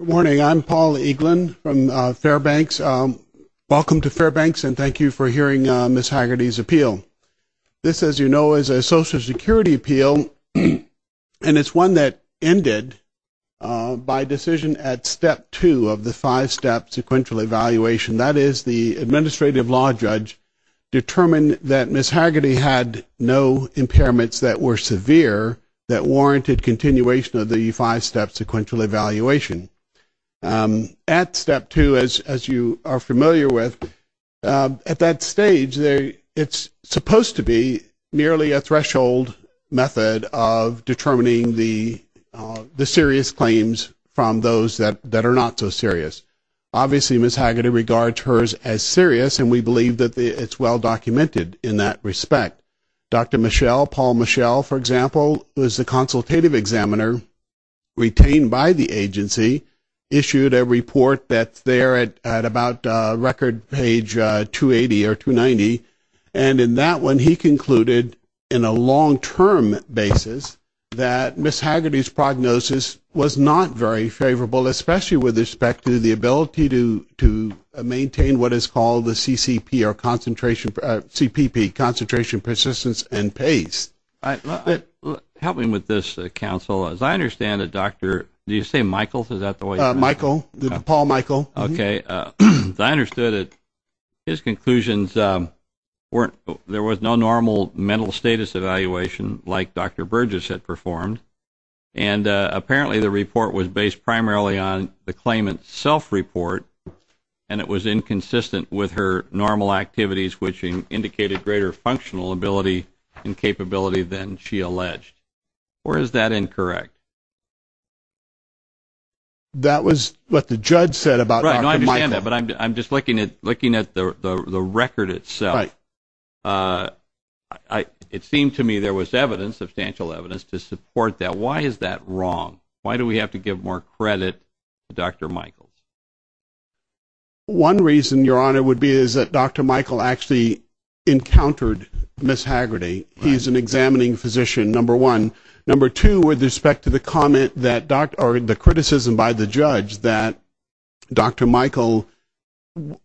Good morning. I'm Paul Eaglin from Fairbanks. Welcome to Fairbanks, and thank you for hearing Ms. Haggerty's appeal. This, as you know, is a Social Security appeal, and it's one that ended by decision at step two of the five-step sequential evaluation. That is, the administrative law judge determined that Ms. Haggerty had no impairments that were severe that warranted continuation of the five-step sequential evaluation. At step two, as you are familiar with, at that stage, it's supposed to be merely a threshold method of determining the serious claims from those that are not so serious. Obviously, Ms. Haggerty regards hers as serious, and we believe that it's well-documented in that respect. Dr. Michel, Paul Michel, for example, was the consultative examiner retained by the agency, issued a report that's there at about record page 280 or 290, and in that one, he concluded in a long-term basis that Ms. Haggerty's prognosis was not very favorable, especially with respect to the ability to maintain what is called the CCP or CPP, concentration, persistence, and pace. Help me with this, counsel. As I understand it, Dr. – do you say Michel? Is that the way you say it? Michel, Paul Michel. Okay. As I understood it, his conclusions weren't – there was no normal mental status evaluation like Dr. Burgess had performed, and apparently the report was based primarily on the claimant's self-report, and it was inconsistent with her normal activities, which indicated greater functional ability and capability than she alleged. Or is that incorrect? That was what the judge said about Dr. Michel. Right. I understand that, but I'm just looking at the record itself. Right. It seemed to me there was evidence, substantial evidence, to support that. Why is that wrong? Why do we have to give more credit to Dr. Michel? One reason, Your Honor, would be is that Dr. Michel actually encountered Ms. Haggerty. He's an examining physician, number one. Number two, with respect to the comment that – or the criticism by the judge that Dr. Michel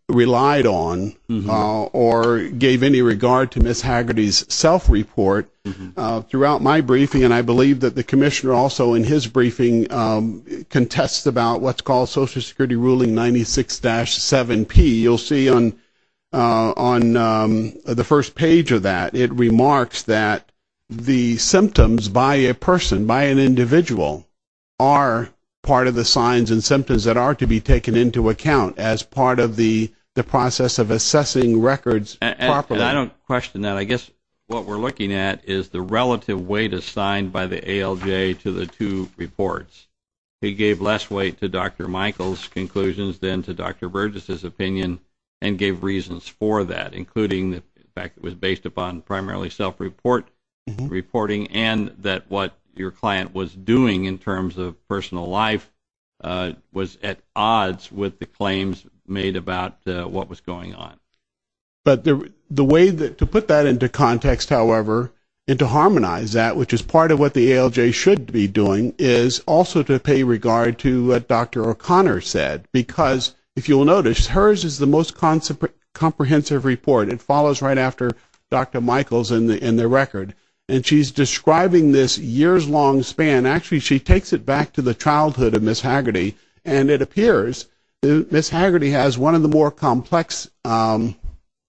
relied on or gave any regard to Ms. Haggerty's self-report, throughout my briefing, and I believe that the commissioner also in his briefing contests about what's called Social Security Ruling 96-7P. You'll see on the first page of that, it remarks that the symptoms by a person, by an individual, are part of the signs and symptoms that are to be taken into account as part of the process of assessing records properly. I don't question that. I guess what we're looking at is the relative weight assigned by the ALJ to the two reports. He gave less weight to Dr. Michel's conclusions than to Dr. Burgess's opinion and gave reasons for that, including the fact that it was based upon primarily self-reporting and that what your client was doing in terms of personal life was at odds with the claims made about what was going on. But the way to put that into context, however, and to harmonize that, which is part of what the ALJ should be doing, is also to pay regard to what Dr. O'Connor said. Because, if you'll notice, hers is the most comprehensive report. It follows right after Dr. Michel's in the record. And she's describing this years-long span. Actually, she takes it back to the childhood of Ms. Haggerty, and it appears that Ms. Haggerty has one of the more complex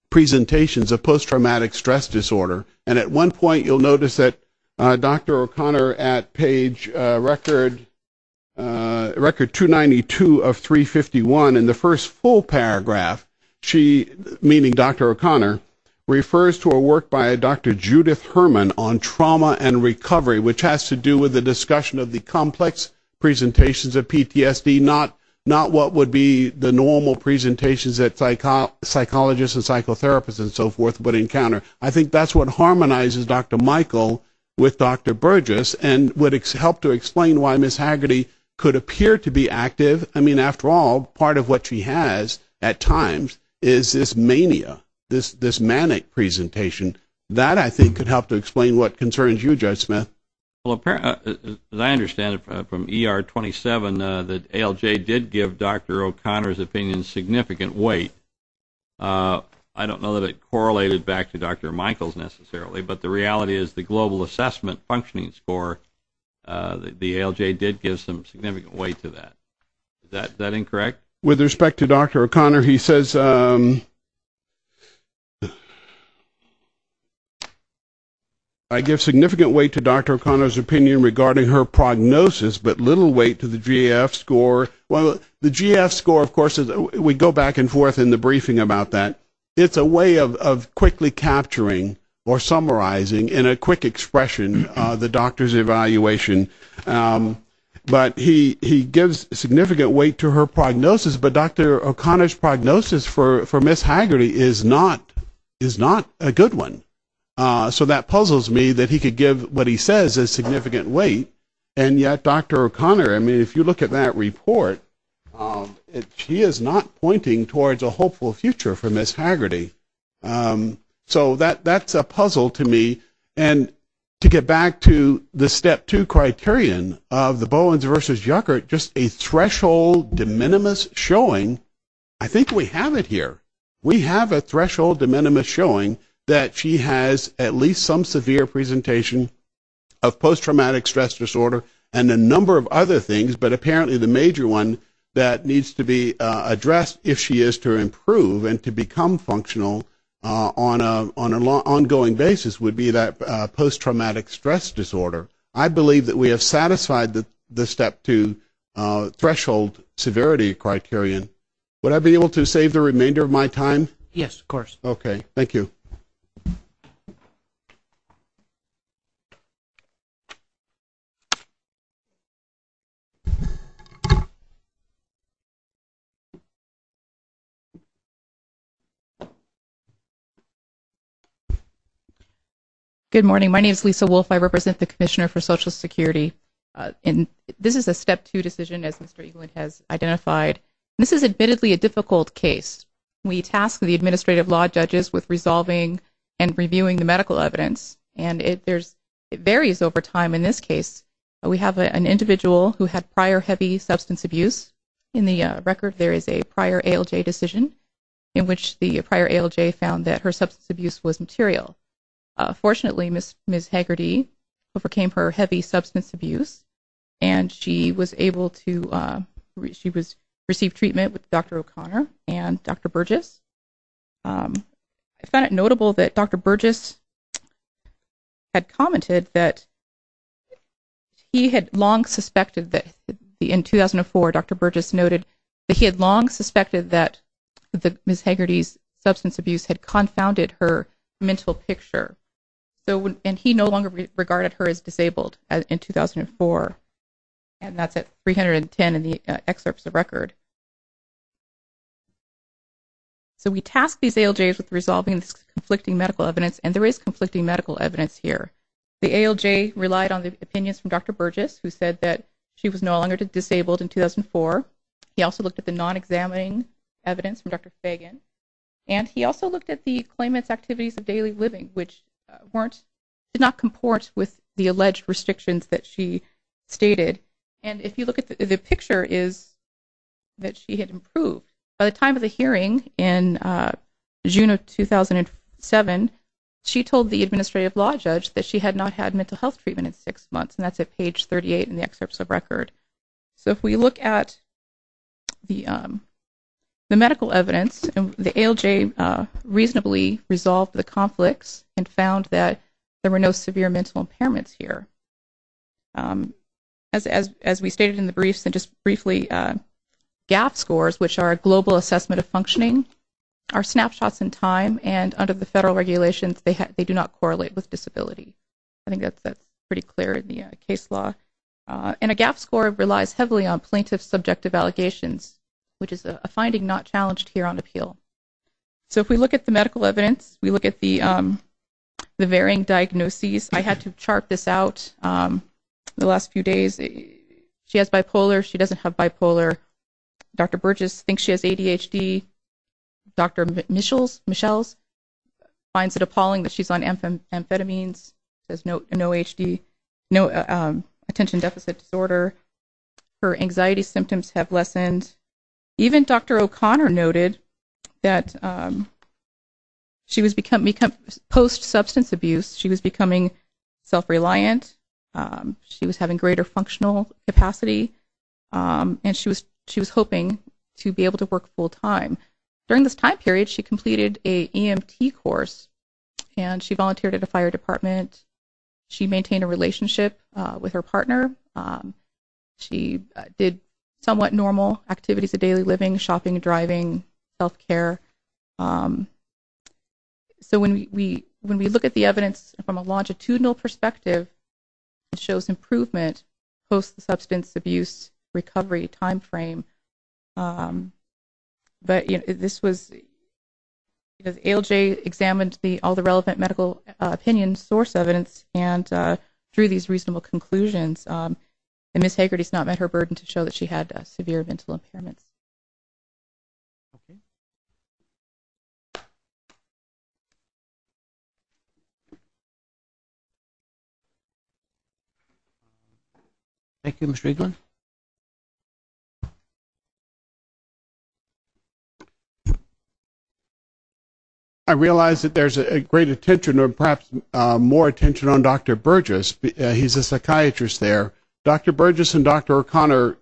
presentations of post-traumatic stress disorder. And at one point, you'll notice that Dr. O'Connor, at page record 292 of 351, in the first full paragraph, meaning Dr. O'Connor, refers to a work by Dr. Judith Herman on trauma and recovery, which has to do with the discussion of the complex presentations of PTSD, not what would be the normal presentations that psychologists and psychotherapists and so forth would encounter. I think that's what harmonizes Dr. Michel with Dr. Burgess and would help to explain why Ms. Haggerty could appear to be active. I mean, after all, part of what she has at times is this mania, this manic presentation. That, I think, could help to explain what concerns you, Judge Smith. Well, as I understand it from ER 27, the ALJ did give Dr. O'Connor's opinion significant weight. I don't know that it correlated back to Dr. Michel's necessarily, but the reality is the global assessment functioning score, the ALJ did give some significant weight to that. Is that incorrect? With respect to Dr. O'Connor, he says, I give significant weight to Dr. O'Connor's opinion regarding her prognosis, but little weight to the GAF score. Well, the GAF score, of course, we go back and forth in the briefing about that. It's a way of quickly capturing or summarizing in a quick expression the doctor's evaluation. But he gives significant weight to her prognosis, but Dr. O'Connor's prognosis for Ms. Haggerty is not a good one. So that puzzles me that he could give what he says as significant weight, and yet Dr. O'Connor, I mean, if you look at that report, she is not pointing towards a hopeful future for Ms. Haggerty. So that's a puzzle to me. And to get back to the step two criterion of the Bowens versus Yuckert, just a threshold de minimis showing, I think we have it here. We have a threshold de minimis showing that she has at least some severe presentation of post-traumatic stress disorder and a number of other things, but apparently the major one that needs to be addressed, if she is to improve and to become functional on an ongoing basis, would be that post-traumatic stress disorder. I believe that we have satisfied the step two threshold severity criterion. Would I be able to save the remainder of my time? Yes, of course. Okay. Thank you. Good morning. My name is Lisa Wolf. I represent the Commissioner for Social Security. This is a step two decision, as Mr. Eaglin has identified. This is admittedly a difficult case. We task the administrative law judges with resolving and reviewing the medical evidence, and it varies over time in this case. We have an individual who had prior heavy substance abuse. In the record, there is a prior ALJ decision in which the prior ALJ found that her substance abuse was material. Fortunately, Ms. Haggerty overcame her heavy substance abuse, and she was able to receive treatment with Dr. O'Connor and Dr. Burgess. I found it notable that Dr. Burgess had commented that he had long suspected that in 2004, Dr. Burgess noted that he had long suspected that Ms. Haggerty's substance abuse had confounded her mental picture, and he no longer regarded her as disabled in 2004, and that's at 310 in the excerpts of record. So we task these ALJs with resolving this conflicting medical evidence, and there is conflicting medical evidence here. The ALJ relied on the opinions from Dr. Burgess, who said that she was no longer disabled in 2004. He also looked at the non-examining evidence from Dr. Fagan, and he also looked at the claimant's activities of daily living, which did not comport with the alleged restrictions that she stated. And if you look at the picture, it is that she had improved. By the time of the hearing in June of 2007, she told the administrative law judge that she had not had mental health treatment in six months, and that's at page 38 in the excerpts of record. So if we look at the medical evidence, the ALJ reasonably resolved the conflicts and found that there were no severe mental impairments here. As we stated in the briefs and just briefly, GAAP scores, which are a global assessment of functioning, are snapshots in time, and under the federal regulations, they do not correlate with disability. I think that's pretty clear in the case law. And a GAAP score relies heavily on plaintiff's subjective allegations, which is a finding not challenged here on appeal. So if we look at the medical evidence, we look at the varying diagnoses. I had to chart this out the last few days. She has bipolar. She doesn't have bipolar. Dr. Burgess thinks she has ADHD. Dr. Michels finds it appalling that she's on amphetamines. She has no attention deficit disorder. Her anxiety symptoms have lessened. Even Dr. O'Connor noted that she was becoming post-substance abuse. She was becoming self-reliant. She was having greater functional capacity, and she was hoping to be able to work full-time. During this time period, she completed an EMT course, and she volunteered at a fire department. She maintained a relationship with her partner. She did somewhat normal activities of daily living, shopping, driving, health care. So when we look at the evidence from a longitudinal perspective, it shows improvement post-substance abuse recovery time frame. But ALJ examined all the relevant medical opinion source evidence and drew these reasonable conclusions, and Ms. Hagerty's not met her burden to show that she had severe mental impairments. Okay. Thank you, Mr. Eaglin. I realize that there's a great attention or perhaps more attention on Dr. Burgess. He's a psychiatrist there. Dr. Burgess and Dr. O'Connor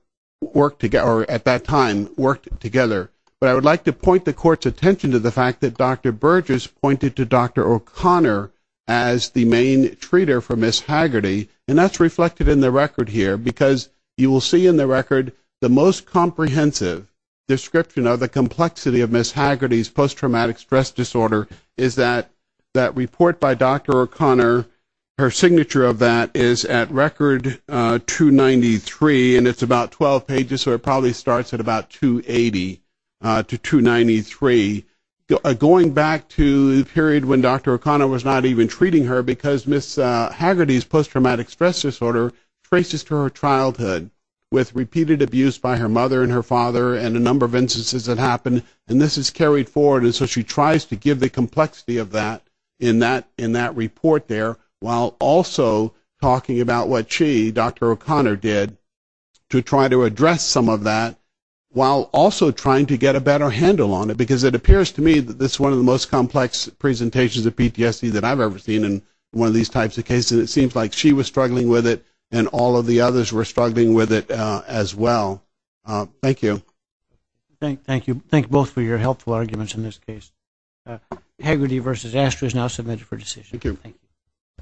at that time worked together. But I would like to point the court's attention to the fact that Dr. Burgess pointed to Dr. O'Connor as the main treater for Ms. Hagerty, and that's reflected in the record here because you will see in the record the most comprehensive description of the complexity of Ms. Hagerty's post-traumatic stress disorder is that that report by Dr. O'Connor, her signature of that is at record 293, and it's about 12 pages, so it probably starts at about 280 to 293. Going back to the period when Dr. O'Connor was not even treating her because Ms. Hagerty's post-traumatic stress disorder traces to her childhood with repeated abuse by her mother and her father and a number of instances that happened, and this is carried forward and so she tries to give the complexity of that in that report there while also talking about what she, Dr. O'Connor, did to try to address some of that while also trying to get a better handle on it because it appears to me that this is one of the most complex presentations of PTSD that I've ever seen in one of these types of cases, and it seems like she was struggling with it and all of the others were struggling with it as well. Thank you. Thank you. Thank you both for your helpful arguments in this case. Hagerty v. Astor is now submitted for decision. Thank you.